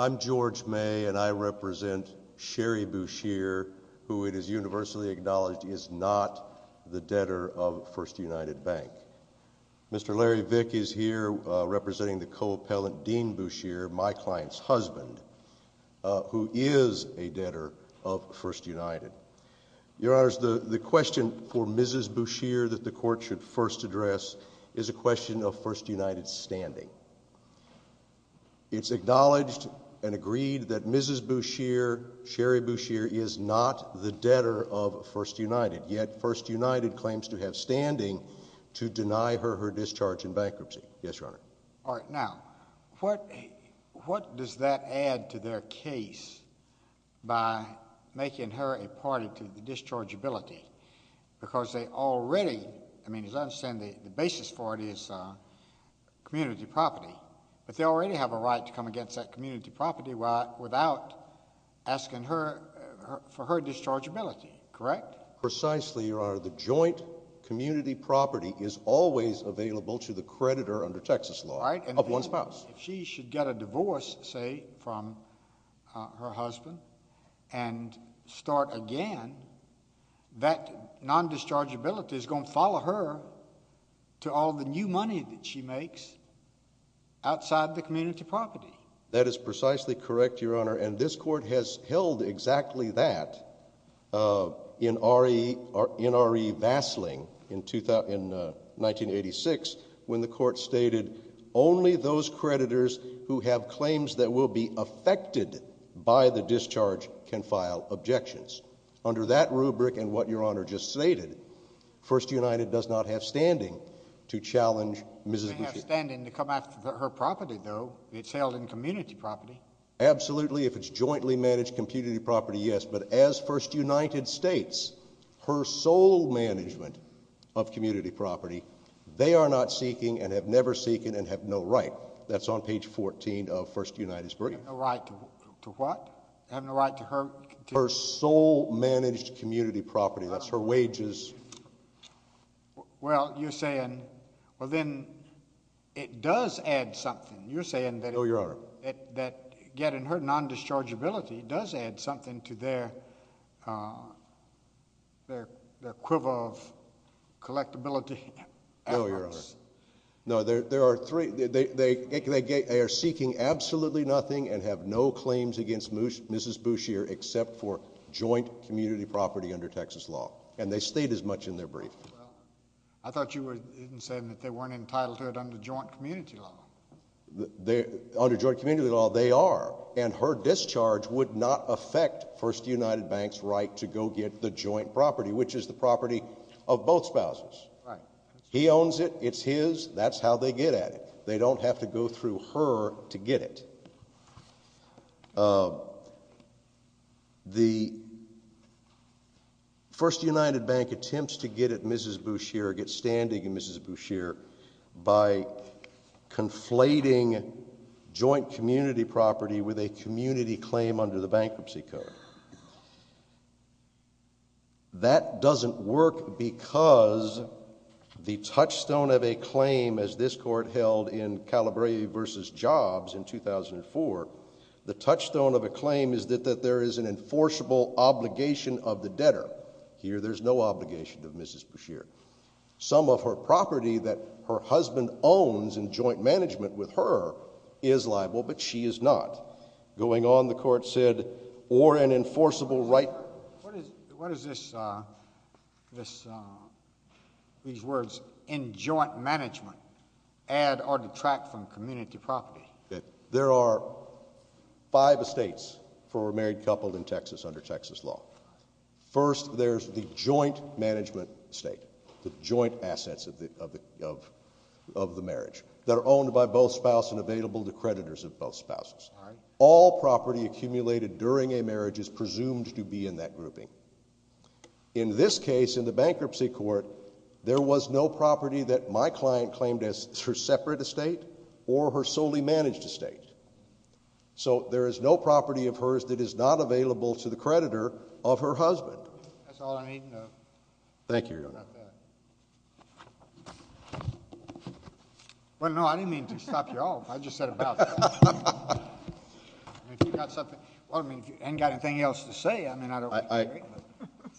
I'm George May and I represent Sherry Buescher, who it is universally acknowledged is not the debtor of First United Bank. Mr. Larry Vick is here representing the co-appellant Dean Buescher, my client's husband, who is a debtor of First United. Your Honors, the question for Mrs. Buescher that the Court should first address is a question of First United's standing. It's acknowledged and agreed that Mrs. Buescher, Sherry Buescher, is not the debtor of First United, yet First United claims to have standing to deny her her discharge in bankruptcy. Yes, Your Honor. All right, now, what does that add to their case by making her a party to the dischargeability? Because they already, I mean, as I understand, the basis for it is community property. But they already have a right to come against that community property without asking for her dischargeability, correct? Precisely, Your Honor. The joint community property is always available to the creditor under Texas law of one spouse. If she should get a divorce, say, from her husband and start again, that non-dischargeability is going to follow her to all the new money that she makes outside the community property. That is precisely correct, Your Honor, and this Court has held exactly that in R.E. Vassling in 1986 when the Court stated only those creditors who have claims that will be affected by the discharge can file objections. Under that rubric and what Your Honor just stated, First United does not have standing to challenge Mrs. Buescher. She has standing to come after her property, though. It's held in community property. Absolutely, if it's jointly managed community property, yes. But as First United States, her sole management of community property, they are not seeking and have never seeking and have no right. That's on page 14 of First United's brief. Have no right to what? Have no right to her? Her sole managed community property. That's her wages. Well, you're saying, well, then it does add something. You're saying that getting her non-dischargeability does add something to their quiver of collectability. No, Your Honor. They are seeking absolutely nothing and have no claims against Mrs. Buescher except for joint community property under Texas law. And they state as much in their brief. I thought you were saying that they weren't entitled to it under joint community law. Under joint community law, they are. And her discharge would not affect First United Bank's right to go get the joint property, which is the property of both spouses. Right. He owns it. It's his. That's how they get at it. They don't have to go through her to get it. The First United Bank attempts to get at Mrs. Buescher, get standing in Mrs. Buescher, by conflating joint community property with a community claim under the bankruptcy code. That doesn't work because the touchstone of a claim, as this Court held in Calabresi v. Jobs in 2004, the touchstone of a claim is that there is an enforceable obligation of the debtor. Here, there's no obligation of Mrs. Buescher. Some of her property that her husband owns in joint management with her is liable, but she is not. Going on, the Court said, or an enforceable right. What is this, these words, in joint management, add or detract from community property? There are five estates for a married couple in Texas under Texas law. First, there's the joint management estate, the joint assets of the marriage, that are owned by both spouses and available to creditors of both spouses. All property accumulated during a marriage is presumed to be in that grouping. In this case, in the bankruptcy court, there was no property that my client claimed as her separate estate or her solely managed estate. So there is no property of hers that is not available to the creditor of her husband. That's all I need to know. Thank you, Your Honor. About that. Well, no, I didn't mean to stop you all. I just said about that. If you've got something, well, I mean, if you haven't got anything else to say, I mean, I don't think you're great.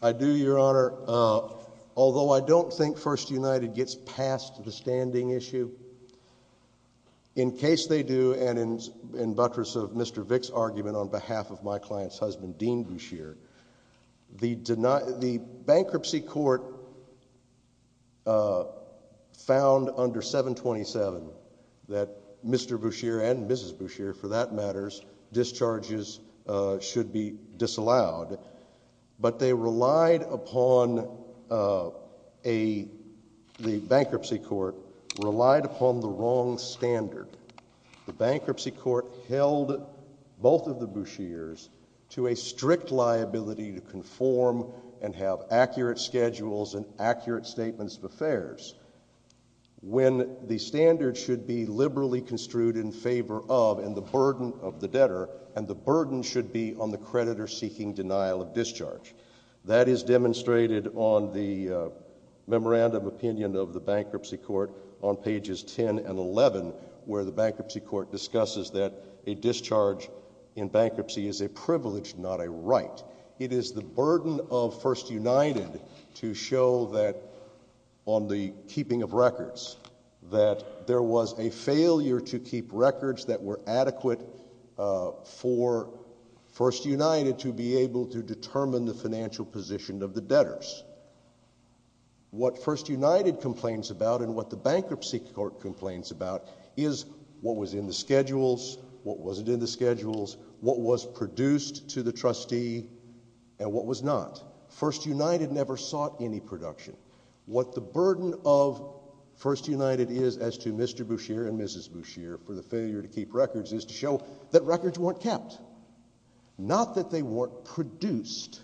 I do, Your Honor. Although I don't think First United gets past the standing issue, in case they do, and in buttress of Mr. Vick's argument on behalf of my client's husband, Dean Boucher, the bankruptcy court found under 727 that Mr. Boucher and Mrs. Boucher, for that matter, discharges should be disallowed. But they relied upon a, the bankruptcy court relied upon the wrong standard. The bankruptcy court held both of the Bouchers to a strict liability to conform and have accurate schedules and accurate statements of affairs. When the standard should be liberally construed in favor of and the burden of the debtor, and the burden should be on the creditor seeking denial of discharge. That is demonstrated on the memorandum opinion of the bankruptcy court on pages 10 and 11, where the bankruptcy court discusses that a discharge in bankruptcy is a privilege, not a right. It is the burden of First United to show that on the keeping of records, that there was a failure to keep records that were adequate for First United to be able to determine the financial position of the debtors. What First United complains about and what the bankruptcy court complains about is what was in the schedules, what wasn't in the schedules, what was produced to the trustee, and what was not. First United never sought any production. What the burden of First United is as to Mr. Boucher and Mrs. Boucher for the failure to keep records is to show that records weren't kept. Not that they weren't produced.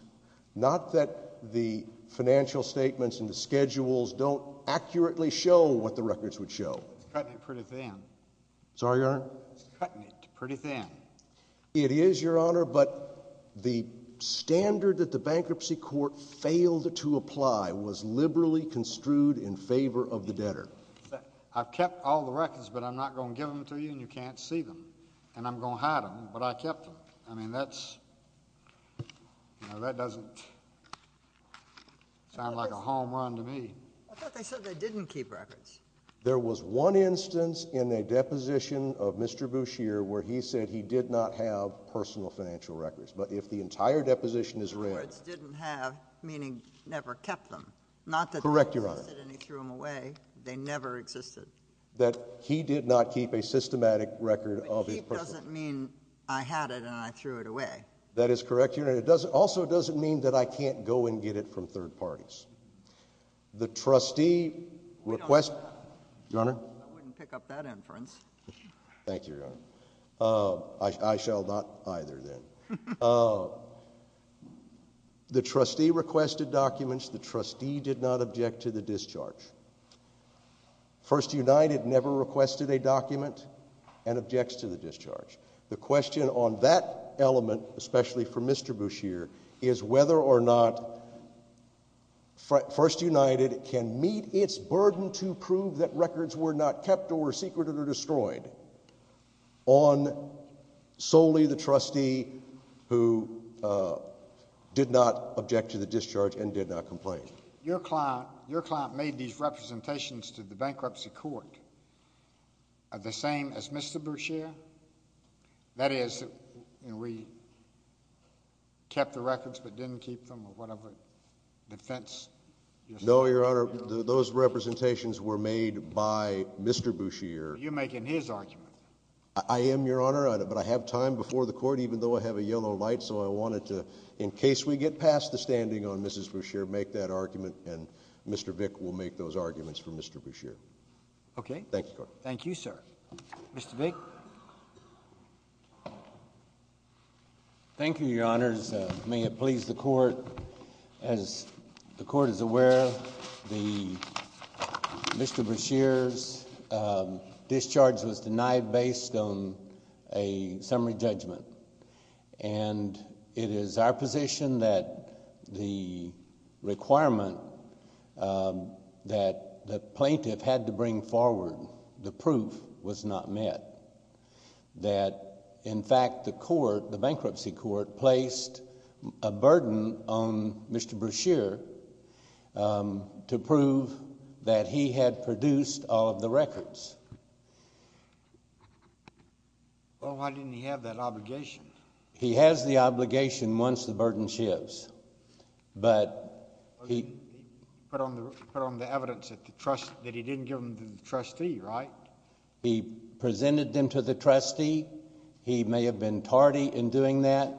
Not that the financial statements and the schedules don't accurately show what the records would show. It's cutting it pretty thin. Sorry, Your Honor? It's cutting it pretty thin. It is, Your Honor, but the standard that the bankruptcy court failed to apply was liberally construed in favor of the debtor. I've kept all the records, but I'm not going to give them to you and you can't see them. And I'm going to hide them, but I kept them. I mean, that's, you know, that doesn't sound like a home run to me. I thought they said they didn't keep records. There was one instance in a deposition of Mr. Boucher where he said he did not have personal financial records. But if the entire deposition is read— In other words, didn't have, meaning never kept them. Correct, Your Honor. They never existed and he threw them away. They never existed. That he did not keep a systematic record of his personal— But keep doesn't mean I had it and I threw it away. That is correct, Your Honor. It also doesn't mean that I can't go and get it from third parties. The trustee requests— We don't. Your Honor? I wouldn't pick up that inference. Thank you, Your Honor. I shall not either, then. The trustee requested documents. The trustee did not object to the discharge. First United never requested a document and objects to the discharge. The question on that element, especially for Mr. Boucher, is whether or not First United can meet its burden to prove that records were not kept or were secreted or destroyed on solely the trustee who did not object to the discharge and did not complain. Your client made these representations to the bankruptcy court the same as Mr. Boucher? That is, we kept the records but didn't keep them or whatever defense— No, Your Honor. Those representations were made by Mr. Boucher. Are you making his argument? I am, Your Honor, but I have time before the court, even though I have a yellow light, so I wanted to, in case we get past the standing on Mrs. Boucher, make that argument and Mr. Vick will make those arguments for Mr. Boucher. Okay. Thank you, sir. Mr. Vick? Thank you, Your Honors. May it please the court. As the court is aware, Mr. Boucher's discharge was denied based on a summary judgment, and it is our position that the requirement that the plaintiff had to bring forward, the proof, was not met. That, in fact, the court, the bankruptcy court, placed a burden on Mr. Boucher to prove that he had produced all of the records. Well, why didn't he have that obligation? He has the obligation once the burden shifts, but he— He put on the evidence that he didn't give them to the trustee, right? He presented them to the trustee. He may have been tardy in doing that,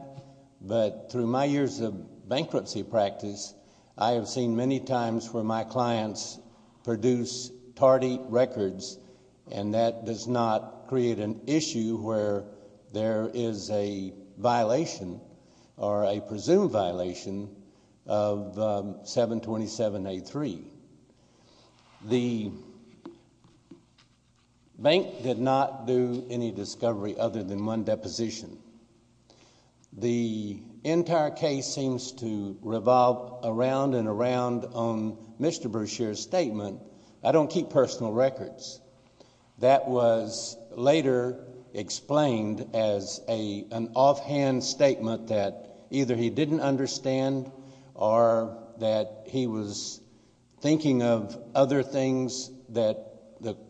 but through my years of bankruptcy practice, I have seen many times where my clients produce tardy records, and that does not create an issue where there is a violation or a presumed violation of 727A3. The bank did not do any discovery other than one deposition. The entire case seems to revolve around and around on Mr. Boucher's statement, I don't keep personal records. That was later explained as an offhand statement that either he didn't understand or that he was thinking of other things that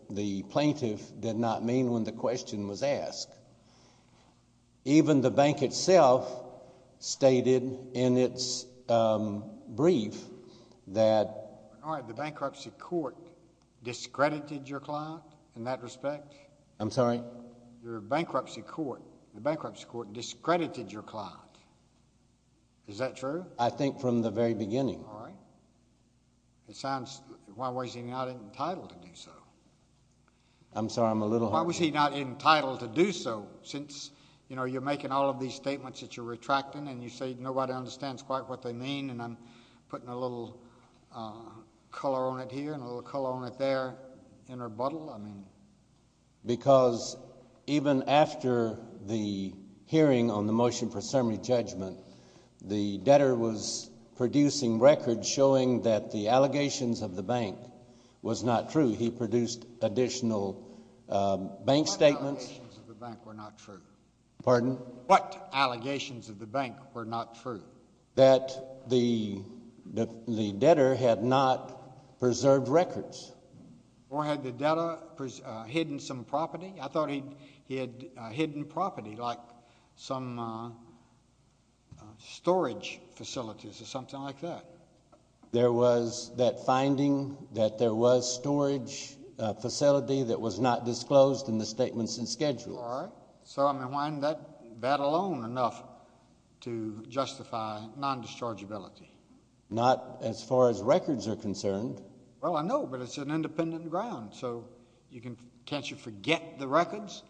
the plaintiff did not mean when the question was asked. Even the bank itself stated in its brief that— I'm sorry? Your bankruptcy court, the bankruptcy court discredited your client. Is that true? I think from the very beginning. All right. It sounds—why was he not entitled to do so? I'm sorry, I'm a little— Why was he not entitled to do so since, you know, you're making all of these statements that you're retracting, and you say nobody understands quite what they mean, and I'm putting a little color on it here and a little color on it there in rebuttal? I mean— Because even after the hearing on the motion for summary judgment, the debtor was producing records showing that the allegations of the bank was not true. He produced additional bank statements— What allegations of the bank were not true? Pardon? What allegations of the bank were not true? That the debtor had not preserved records. Or had the debtor hidden some property? I thought he had hidden property like some storage facilities or something like that. There was that finding that there was storage facility that was not disclosed in the statements and schedules. All right. So, I mean, why isn't that alone enough to justify nondischargeability? Not as far as records are concerned. Well, I know, but it's an independent ground. So can't you forget the records?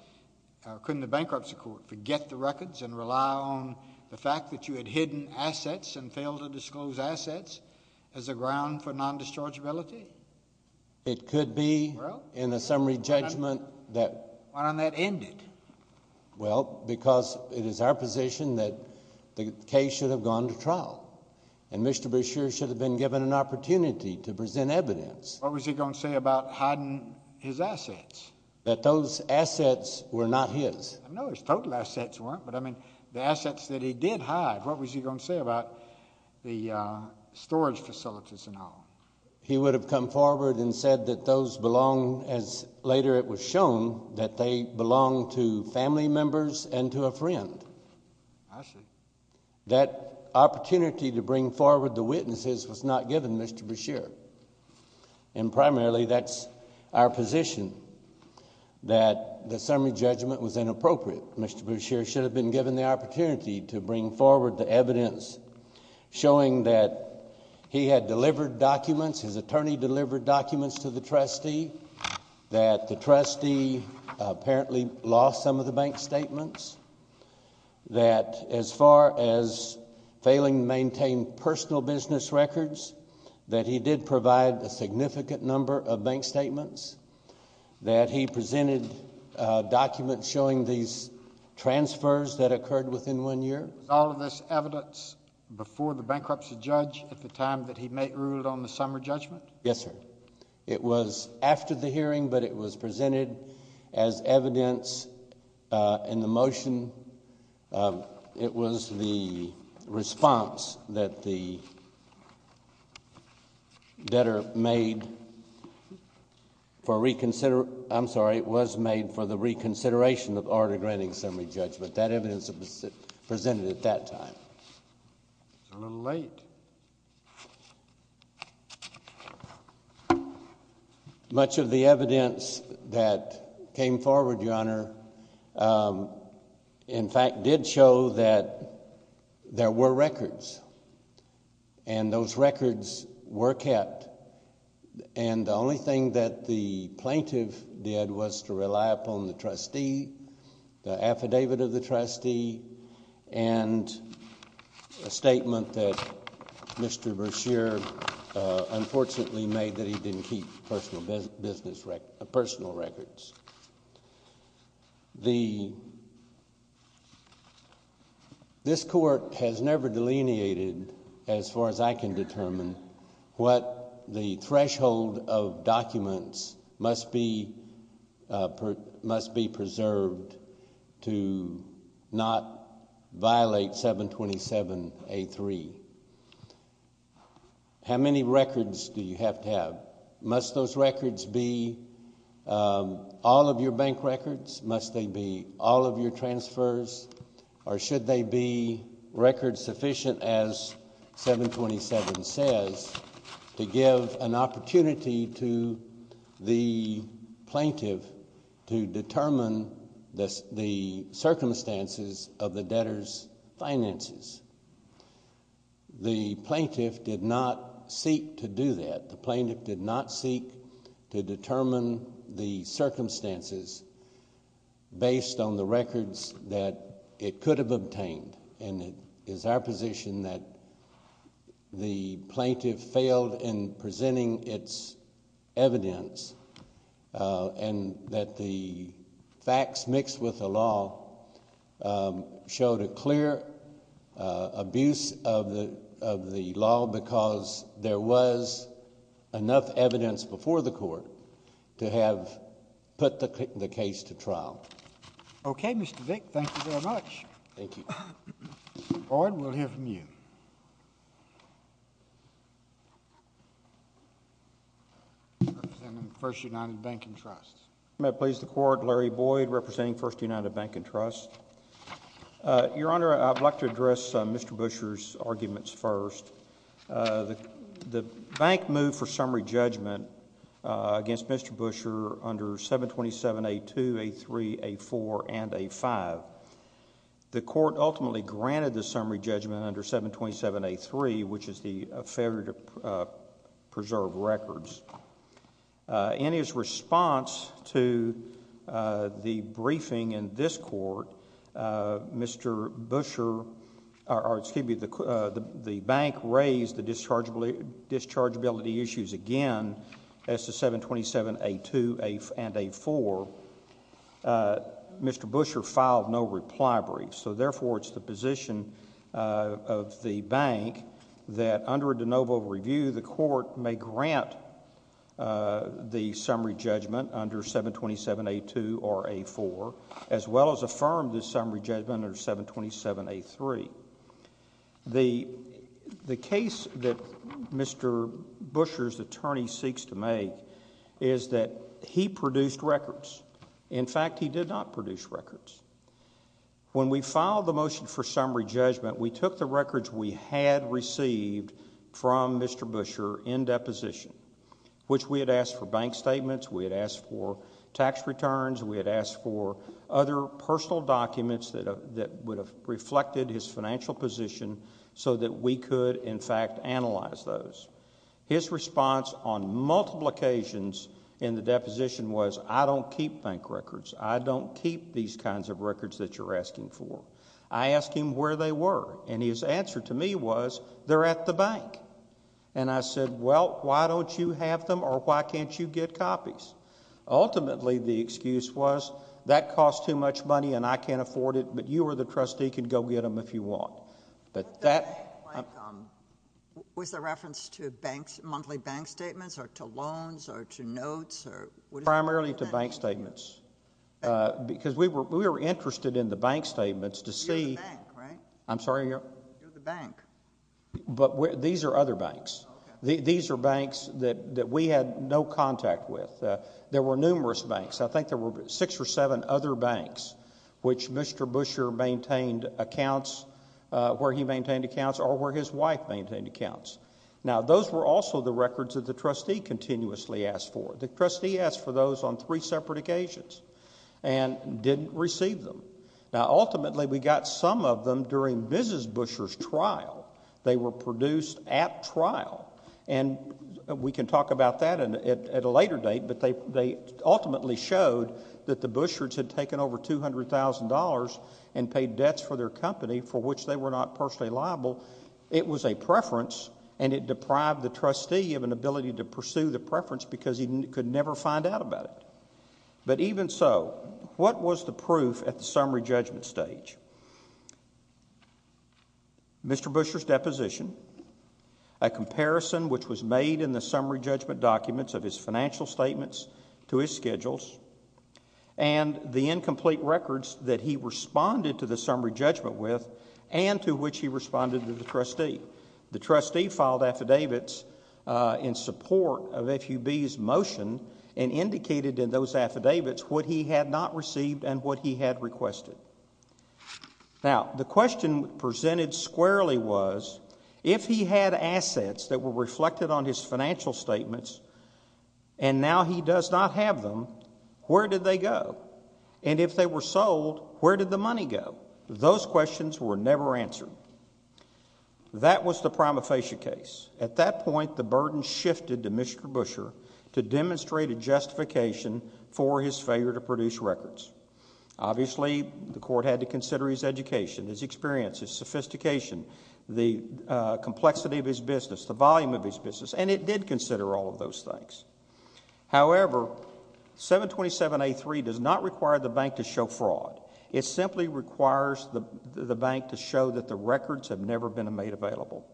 Couldn't the bankruptcy court forget the records and rely on the fact that you had hidden assets and failed to disclose assets as a ground for nondischargeability? It could be in a summary judgment that— Well, because it is our position that the case should have gone to trial and Mr. Brashear should have been given an opportunity to present evidence. What was he going to say about hiding his assets? That those assets were not his. No, his total assets weren't, but, I mean, the assets that he did hide, what was he going to say about the storage facilities and all? He would have come forward and said that those belonged, as later it was shown, that they belonged to family members and to a friend. I see. That opportunity to bring forward the witnesses was not given Mr. Brashear, and primarily that's our position that the summary judgment was inappropriate. Mr. Brashear should have been given the opportunity to bring forward the evidence showing that he had delivered documents, his attorney delivered documents to the trustee, that the trustee apparently lost some of the bank statements, that as far as failing to maintain personal business records, that he did provide a significant number of bank statements, that he presented documents showing these transfers that occurred within one year. Was all of this evidence before the bankruptcy judge at the time that he ruled on the summary judgment? Yes, sir. It was after the hearing, but it was presented as evidence in the motion. It was the response that the debtor made for reconsideration. I'm sorry, it was made for the reconsideration of order granting summary judgment. That evidence was presented at that time. A little late. Much of the evidence that came forward, Your Honor, in fact did show that there were records, and those records were kept, and the only thing that the plaintiff did was to rely upon the trustee, the affidavit of the trustee, and a statement that Mr. Brashear unfortunately made that he didn't keep personal business records, personal records. This Court has never delineated, as far as I can determine, what the threshold of documents must be preserved to not violate 727A3. How many records do you have to have? Must those records be all of your bank records? Must they be all of your transfers? Or should they be records sufficient, as 727 says, to give an opportunity to the plaintiff to determine the circumstances of the debtor's finances? The plaintiff did not seek to do that. The plaintiff did not seek to determine the circumstances based on the records that it could have obtained. It is our position that the plaintiff failed in presenting its evidence and that the facts mixed with the law showed a clear abuse of the law because there was enough evidence before the Court to have put the case to trial. Okay, Mr. Vick. Thank you very much. Thank you. Boyd, we'll hear from you. First United Bank and Trust. May I please the Court? Larry Boyd, representing First United Bank and Trust. Your Honor, I'd like to address Mr. Buescher's arguments first. The bank moved for summary judgment against Mr. Buescher under 727A2, A3, A4, and A5. The Court ultimately granted the summary judgment under 727A3, which is the failure to preserve records. In his response to the briefing in this Court, Mr. Buescher... or excuse me, the bank raised the dischargeability issues again as to 727A2 and A4. Mr. Buescher filed no reply brief. So therefore, it's the position of the bank that under a de novo review, the Court may grant the summary judgment under 727A2 or A4, as well as affirm the summary judgment under 727A3. The case that Mr. Buescher's attorney seeks to make is that he produced records. In fact, he did not produce records. When we filed the motion for summary judgment, we took the records we had received from Mr. Buescher in deposition, which we had asked for bank statements, we had asked for tax returns, we had asked for other personal documents that would have reflected his financial position, so that we could, in fact, analyze those. His response on multiple occasions in the deposition was, I don't keep bank records. I don't keep these kinds of records that you're asking for. I asked him where they were, and his answer to me was, they're at the bank. And I said, well, why don't you have them, or why can't you get copies? Ultimately, the excuse was, that costs too much money and I can't afford it, but you or the trustee can go get them if you want. But that... Was the bank, like, was the reference to banks, monthly bank statements, or to loans, or to notes, or... Primarily to bank statements, because we were interested in the bank statements to see... You're the bank, right? I'm sorry? You're the bank. But these are other banks. These are banks that we had no contact with. There were numerous banks. I think there were six or seven other banks which Mr. Buescher maintained accounts, where he maintained accounts, or where his wife maintained accounts. Now, those were also the records that the trustee continuously asked for. The trustee asked for those on three separate occasions and didn't receive them. Now, ultimately, we got some of them during Mrs. Buescher's trial. They were produced at trial. And we can talk about that at a later date, but they ultimately showed that the Bueschers had taken over $200,000 and paid debts for their company for which they were not personally liable. It was a preference, and it deprived the trustee of an ability to pursue the preference because he could never find out about it. But even so, what was the proof at the summary judgment stage? Mr. Buescher's deposition, a comparison which was made in the summary judgment documents of his financial statements to his schedules, and the incomplete records that he responded to the summary judgment with and to which he responded to the trustee. The trustee filed affidavits in support of FUB's motion and indicated in those affidavits what he had not received and what he had requested. Now, the question presented squarely was, if he had assets that were reflected on his financial statements and now he does not have them, where did they go? And if they were sold, where did the money go? Those questions were never answered. That was the prima facie case. At that point, the burden shifted to Mr. Buescher to demonstrate a justification for his failure to produce records. Obviously, the court had to consider his education, his experience, his sophistication, the complexity of his business, the volume of his business, and it did consider all of those things. However, 727A3 does not require the bank to show fraud. It simply requires the bank to show that the records have never been made available.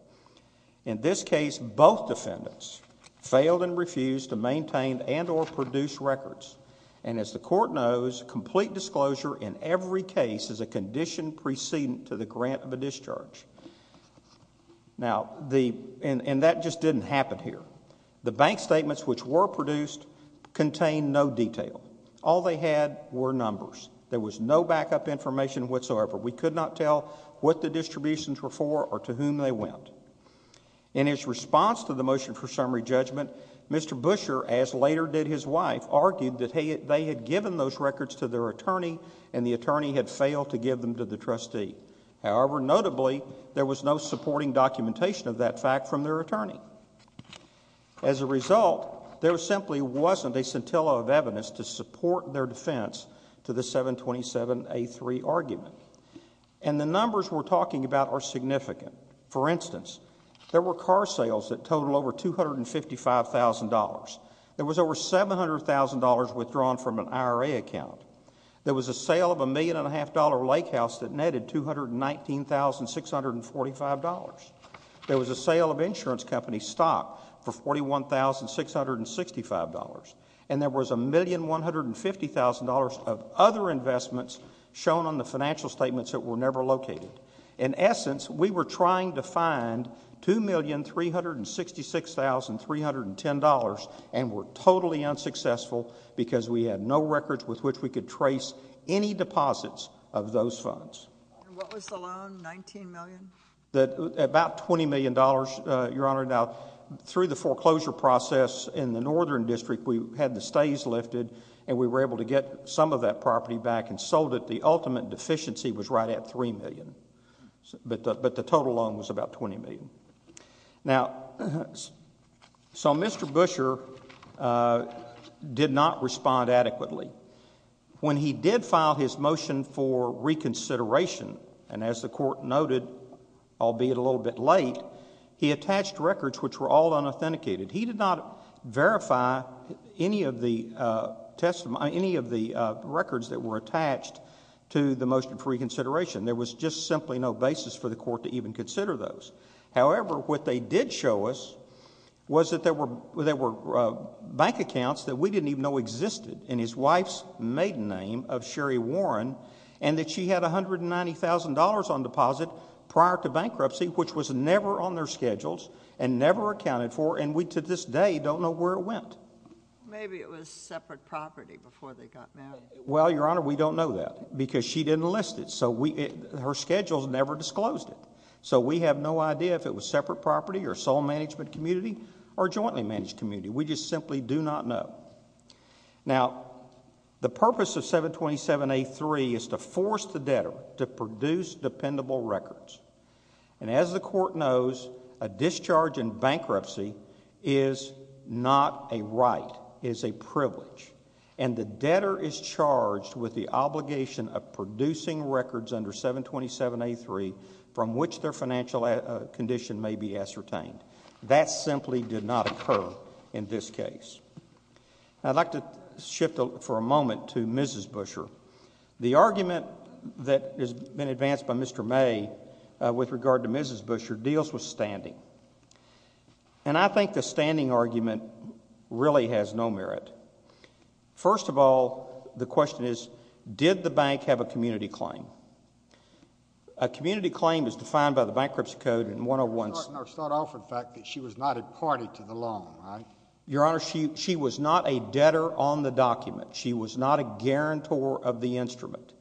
In this case, both defendants failed and refused to maintain and or produce records. And as the court knows, complete disclosure in every case is a condition precedent to the grant of a discharge. And that just didn't happen here. The bank statements which were produced contained no detail. All they had were numbers. There was no backup information whatsoever. We could not tell what the distributions were for or to whom they went. In his response to the motion for summary judgment, Mr. Buescher, as later did his wife, argued that they had given those records to their attorney and the attorney had failed to give them to the trustee. However, notably, there was no supporting documentation of that fact from their attorney. As a result, there simply wasn't a scintilla of evidence to support their defense to the 727A3 argument. And the numbers we're talking about are significant. For instance, there were car sales that totaled over $255,000. There was over $700,000 withdrawn from an IRA account. There was a sale of a $1.5 million lake house that netted $219,645. There was a sale of insurance company stock for $41,665. And there was $1,150,000 of other investments shown on the financial statements that were never located. In essence, we were trying to find $2,366,310 and were totally unsuccessful because we had no records with which we could trace any deposits of those funds. And what was the loan, $19 million? About $20 million, Your Honor. Now, through the foreclosure process in the northern district, we had the stays lifted, and we were able to get some of that property back and sold it. The ultimate deficiency was right at $3 million, but the total loan was about $20 million. Now, so Mr. Buescher did not respond adequately. When he did file his motion for reconsideration, and as the court noted, albeit a little bit late, he attached records which were all unauthenticated. He did not verify any of the records that were attached to the motion for reconsideration. There was just simply no basis for the court to even consider those. However, what they did show us was that there were bank accounts that we didn't even know existed in his wife's maiden name of Sherry Warren, and that she had $190,000 on deposit prior to bankruptcy, which was never on their schedules and never accounted for, and we to this day don't know where it went. Maybe it was separate property before they got married. Well, Your Honor, we don't know that because she didn't list it, so her schedules never disclosed it. So we have no idea if it was separate property or sole management community or jointly managed community. We just simply do not know. Now, the purpose of 727A3 is to force the debtor to produce dependable records, and as the court knows, a discharge in bankruptcy is not a right, it is a privilege, and the debtor is charged with the obligation of producing records under 727A3 from which their financial condition may be ascertained. That simply did not occur in this case. I'd like to shift for a moment to Mrs. Buescher. The argument that has been advanced by Mr. May with regard to Mrs. Buescher deals with standing, and I think the standing argument really has no merit. First of all, the question is did the bank have a community claim? A community claim is defined by the Bankruptcy Code in 101— Start off with the fact that she was not a party to the loan, right? Your Honor, she was not a debtor on the document. She was not a guarantor of the instrument.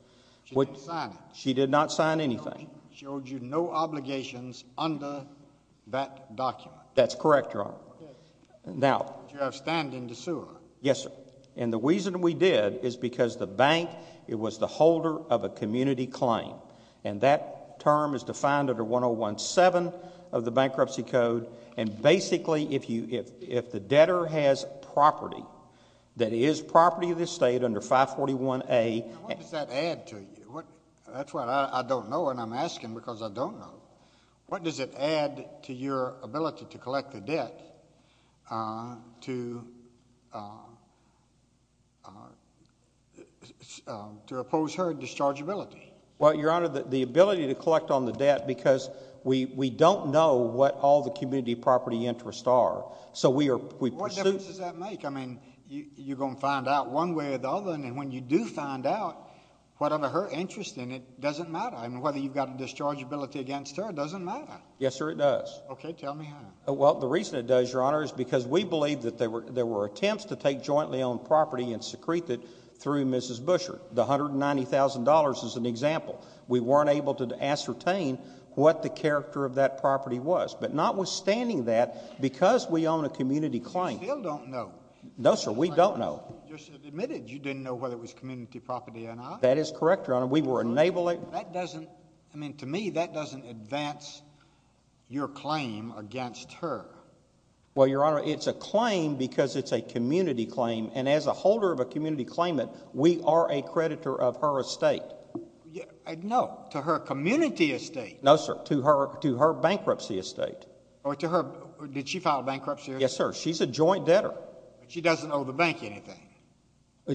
She didn't sign it. She did not sign anything. She owed you no obligations under that document. That's correct, Your Honor. Now— You have standing to sue her. Yes, sir, and the reason we did is because the bank, it was the holder of a community claim, and that term is defined under 1017 of the Bankruptcy Code, and basically if the debtor has property that is property of the state under 541A— What does that add to you? That's what I don't know, and I'm asking because I don't know. What does it add to your ability to collect the debt to oppose her dischargeability? Well, Your Honor, the ability to collect on the debt because we don't know what all the community property interests are, so we are— What difference does that make? I mean you're going to find out one way or the other, and when you do find out whatever her interest in it, it doesn't matter. I mean whether you've got a dischargeability against her doesn't matter. Yes, sir, it does. Okay, tell me how. Well, the reason it does, Your Honor, is because we believe that there were attempts to take jointly owned property and secrete it through Mrs. Busher. The $190,000 is an example. We weren't able to ascertain what the character of that property was, but notwithstanding that, because we own a community claim— You still don't know. No, sir, we don't know. You just admitted you didn't know whether it was community property or not. That is correct, Your Honor. We were enabling— That doesn't—I mean to me that doesn't advance your claim against her. Well, Your Honor, it's a claim because it's a community claim, and as a holder of a community claimant, we are a creditor of her estate. No, to her community estate. No, sir, to her bankruptcy estate. Oh, to her—did she file bankruptcy? Yes, sir. She's a joint debtor. But she doesn't owe the bank anything.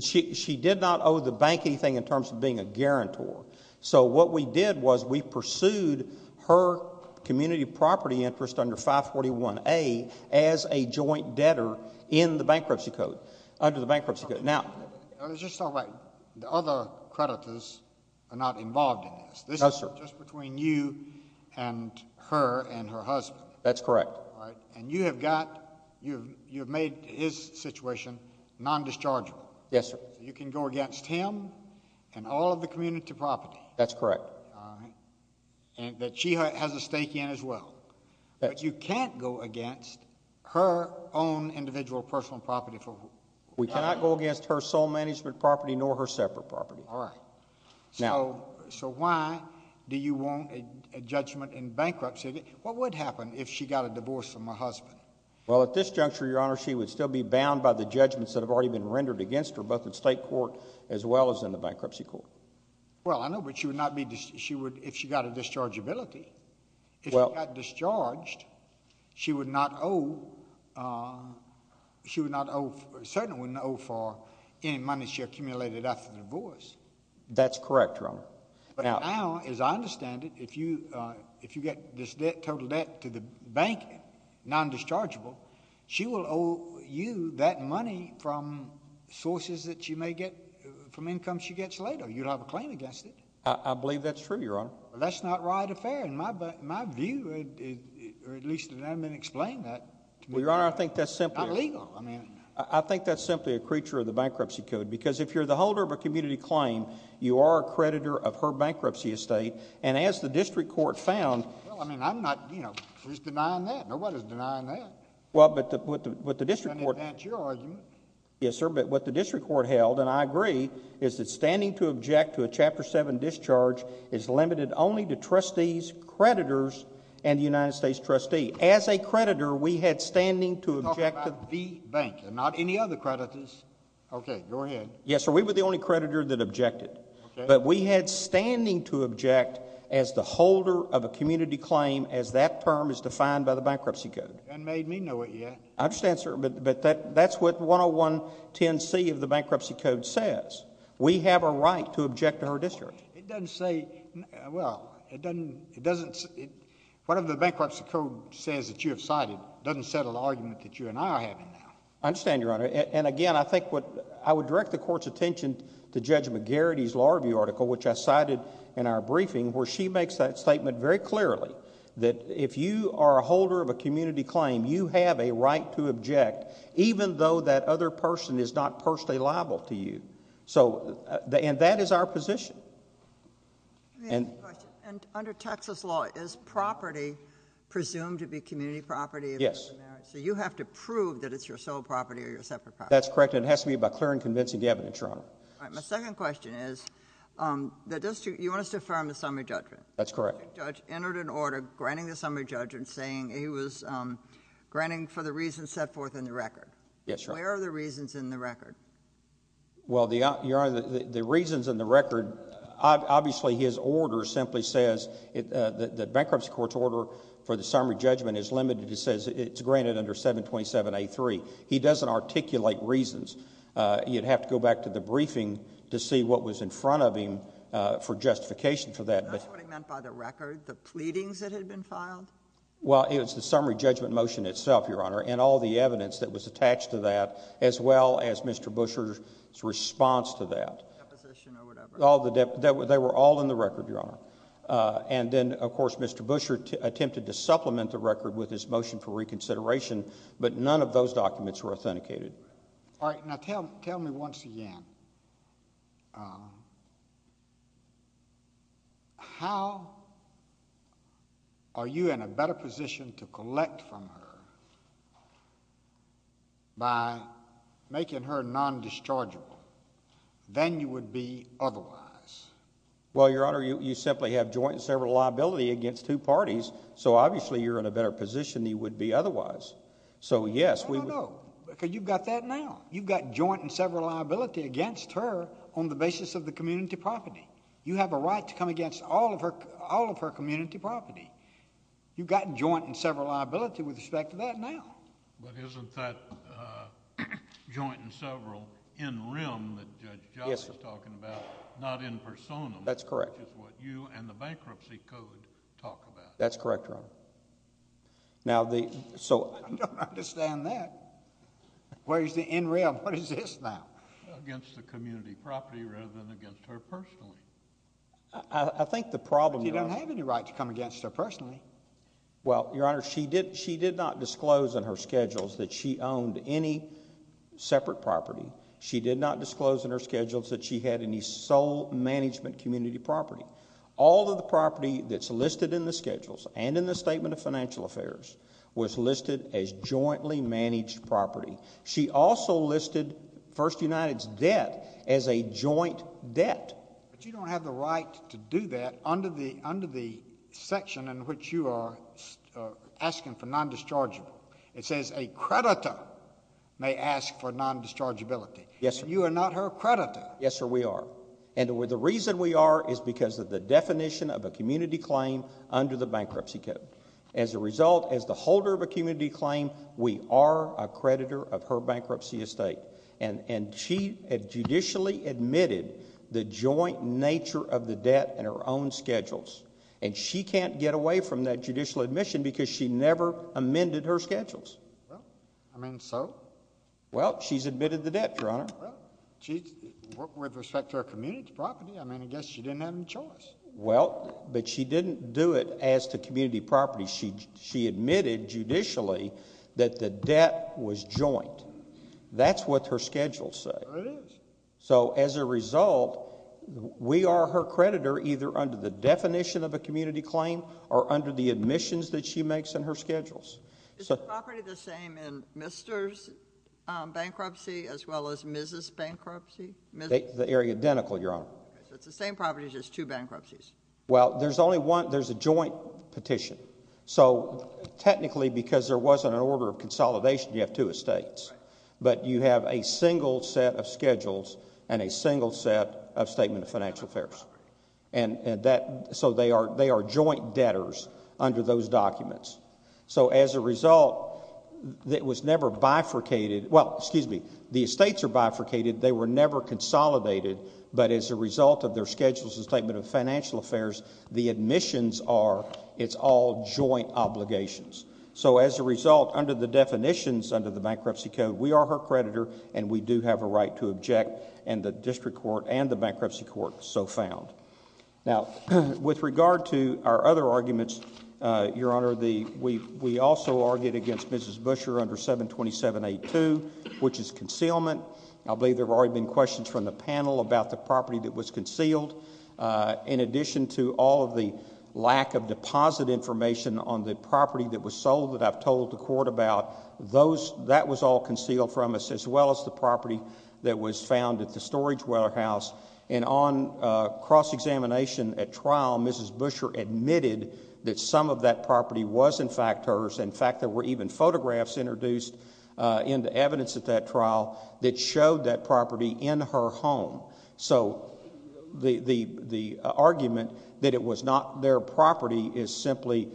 She did not owe the bank anything in terms of being a guarantor. So what we did was we pursued her community property interest under 541A as a joint debtor in the bankruptcy code, under the bankruptcy code. Now— Let's just talk about the other creditors are not involved in this. No, sir. This is just between you and her and her husband. That's correct. And you have got—you have made his situation non-dischargeable. Yes, sir. So you can go against him and all of the community property. That's correct. All right. And that she has a stake in as well. But you can't go against her own individual personal property for— We cannot go against her sole management property nor her separate property. All right. Now— So why do you want a judgment in bankruptcy? What would happen if she got a divorce from her husband? Well, at this juncture, Your Honor, she would still be bound by the judgments that have already been rendered against her, both in state court as well as in the bankruptcy court. Well, I know, but she would not be—she would—if she got a dischargeability. Well— If she got discharged, she would not owe—she would not owe— certainly wouldn't owe for any money she accumulated after the divorce. That's correct, Your Honor. But now, as I understand it, if you get this debt, total debt, to the bank, non-dischargeable, she will owe you that money from sources that you may get from income she gets later. You'd have a claim against it. I believe that's true, Your Honor. That's not right or fair in my view, or at least it hasn't been explained that to me. Well, Your Honor, I think that's simply— It's not legal, I mean. I think that's simply a creature of the bankruptcy code because if you're the holder of a community claim, you are a creditor of her bankruptcy estate, and as the district court found— Well, I mean, I'm not—you know, who's denying that? Nobody's denying that. Well, but the district court— Let me advance your argument. Yes, sir, but what the district court held, and I agree, is that standing to object to a Chapter 7 discharge is limited only to trustees, creditors, and the United States trustee. As a creditor, we had standing to object to— I'm talking about the bank and not any other creditors. Okay, go ahead. Yes, sir, we were the only creditor that objected. Okay. But we had standing to object as the holder of a community claim as that term is defined by the bankruptcy code. You haven't made me know it yet. I understand, sir, but that's what 10110C of the bankruptcy code says. We have a right to object to her discharge. It doesn't say—well, it doesn't—one of the bankruptcy code says that you have cited doesn't settle the argument that you and I are having now. I understand, Your Honor, and again, I think what— I would direct the court's attention to Judge McGarrity's law review article, which I cited in our briefing, where she makes that statement very clearly that if you are a holder of a community claim, you have a right to object even though that other person is not personally liable to you, and that is our position. Let me ask you a question. Under Texas law, is property presumed to be community property? Yes. So you have to prove that it's your sole property or your separate property. That's correct, and it has to be by clear and convincing evidence, Your Honor. All right. My second question is that you want us to affirm the summary judgment. That's correct. The judge entered an order granting the summary judgment saying he was granting for the reasons set forth in the record. Yes, Your Honor. Where are the reasons in the record? Well, Your Honor, the reasons in the record— obviously his order simply says the bankruptcy court's order for the summary judgment is limited. It says it's granted under 727A3. He doesn't articulate reasons. You'd have to go back to the briefing to see what was in front of him for justification for that. Isn't that what he meant by the record, the pleadings that had been filed? Well, it was the summary judgment motion itself, Your Honor, and all the evidence that was attached to that as well as Mr. Busher's response to that. Deposition or whatever. They were all in the record, Your Honor. And then, of course, Mr. Busher attempted to supplement the record with his motion for reconsideration, but none of those documents were authenticated. All right. Now tell me once again, how are you in a better position to collect from her by making her non-dischargeable than you would be otherwise? Well, Your Honor, you simply have joint and several liability against two parties, so obviously you're in a better position than you would be otherwise. So, yes— No, no, no, because you've got that now. You've got joint and several liability against her on the basis of the community property. You have a right to come against all of her community property. You've got joint and several liability with respect to that now. But isn't that joint and several in rem that Judge Johnson is talking about not in personam? That's correct. Which is what you and the bankruptcy code talk about. That's correct, Your Honor. Now the— I don't understand that. Where is the in rem? What is this now? Against the community property rather than against her personally. I think the problem— But you don't have any right to come against her personally. Well, Your Honor, she did not disclose in her schedules that she owned any separate property. She did not disclose in her schedules that she had any sole management community property. All of the property that's listed in the schedules and in the Statement of Financial Affairs was listed as jointly managed property. She also listed First United's debt as a joint debt. But you don't have the right to do that under the section in which you are asking for non-dischargeable. It says a creditor may ask for non-dischargeability. Yes, sir. You are not her creditor. Yes, sir, we are. And the reason we are is because of the definition of a community claim under the bankruptcy code. As a result, as the holder of a community claim, we are a creditor of her bankruptcy estate. And she had judicially admitted the joint nature of the debt in her own schedules. And she can't get away from that judicial admission because she never amended her schedules. Well, I mean, so? Well, she's admitted the debt, Your Honor. Well, with respect to her community property, I mean, I guess she didn't have any choice. Well, but she didn't do it as to community property. She admitted judicially that the debt was joint. That's what her schedules say. It is. So as a result, we are her creditor either under the definition of a community claim or under the admissions that she makes in her schedules. Is the property the same in Mr.'s bankruptcy as well as Mrs.'s bankruptcy? They are identical, Your Honor. So it's the same property, just two bankruptcies. Well, there's only one. There's a joint petition. So technically, because there wasn't an order of consolidation, you have two estates. But you have a single set of schedules and a single set of statement of financial affairs. And so they are joint debtors under those documents. So as a result, it was never bifurcated. Well, excuse me, the estates are bifurcated. They were never consolidated. But as a result of their schedules and statement of financial affairs, the admissions are, it's all joint obligations. So as a result, under the definitions under the Bankruptcy Code, we are her creditor and we do have a right to object, and the District Court and the Bankruptcy Court so found. Now, with regard to our other arguments, Your Honor, we also argued against Mrs. Busher under 727.82, which is concealment. I believe there have already been questions from the panel about the property that was concealed. In addition to all of the lack of deposit information on the property that was sold that I've told the court about, that was all concealed from us, as well as the property that was found at the storage warehouse. And on cross-examination at trial, Mrs. Busher admitted that some of that property was, in fact, hers. In fact, there were even photographs introduced into evidence at that trial that showed that property in her home. So the argument that it was not their property is simply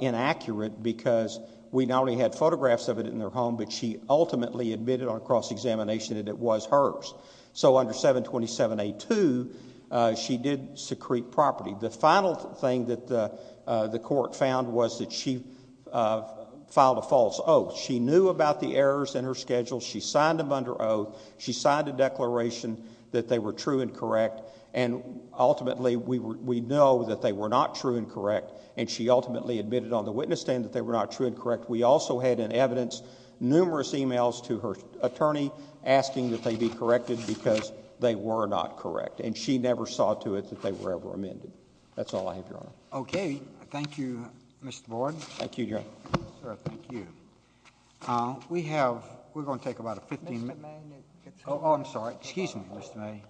inaccurate because we not only had photographs of it in their home, but she ultimately admitted on cross-examination that it was hers. So under 727.82, she did secrete property. The final thing that the court found was that she filed a false oath. She knew about the errors in her schedule. She signed them under oath. She signed a declaration that they were true and correct, and ultimately we know that they were not true and correct, and she ultimately admitted on the witness stand that they were not true and correct. We also had in evidence numerous e-mails to her attorney asking that they be corrected because they were not correct, and she never saw to it that they were ever amended. That's all I have, Your Honor. Okay. Thank you, Mr. Board. Thank you, Your Honor. Sir, thank you. We're going to take about 15 minutes. Mr. Mayne. Oh, I'm sorry. Excuse me, Mr. Mayne.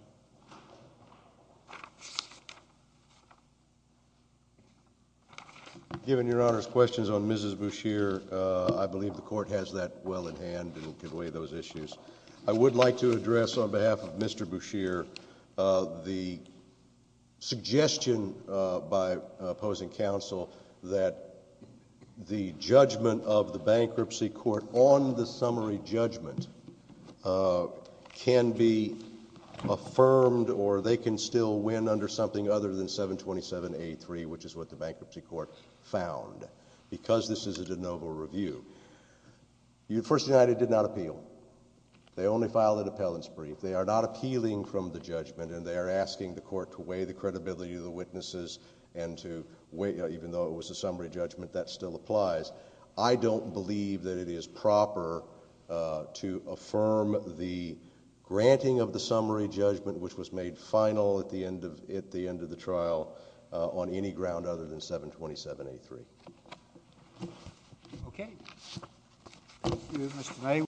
Given Your Honor's questions on Mrs. Boucher, I believe the court has that well in hand and can weigh those issues. I would like to address on behalf of Mr. Boucher the suggestion by opposing counsel that the judgment of the bankruptcy court on the summary judgment can be affirmed or they can still win under something other than 727A3, which is what the bankruptcy court found, because this is a de novo review. First United did not appeal. They only filed an appellant's brief. They are not appealing from the judgment, and they are asking the court to weigh the credibility of the witnesses and to weigh, even though it was a summary judgment, that still applies. I don't believe that it is proper to affirm the granting of the summary judgment, which was made final at the end of the trial, on any ground other than 727A3. Okay. Thank you, Mr. Mayne.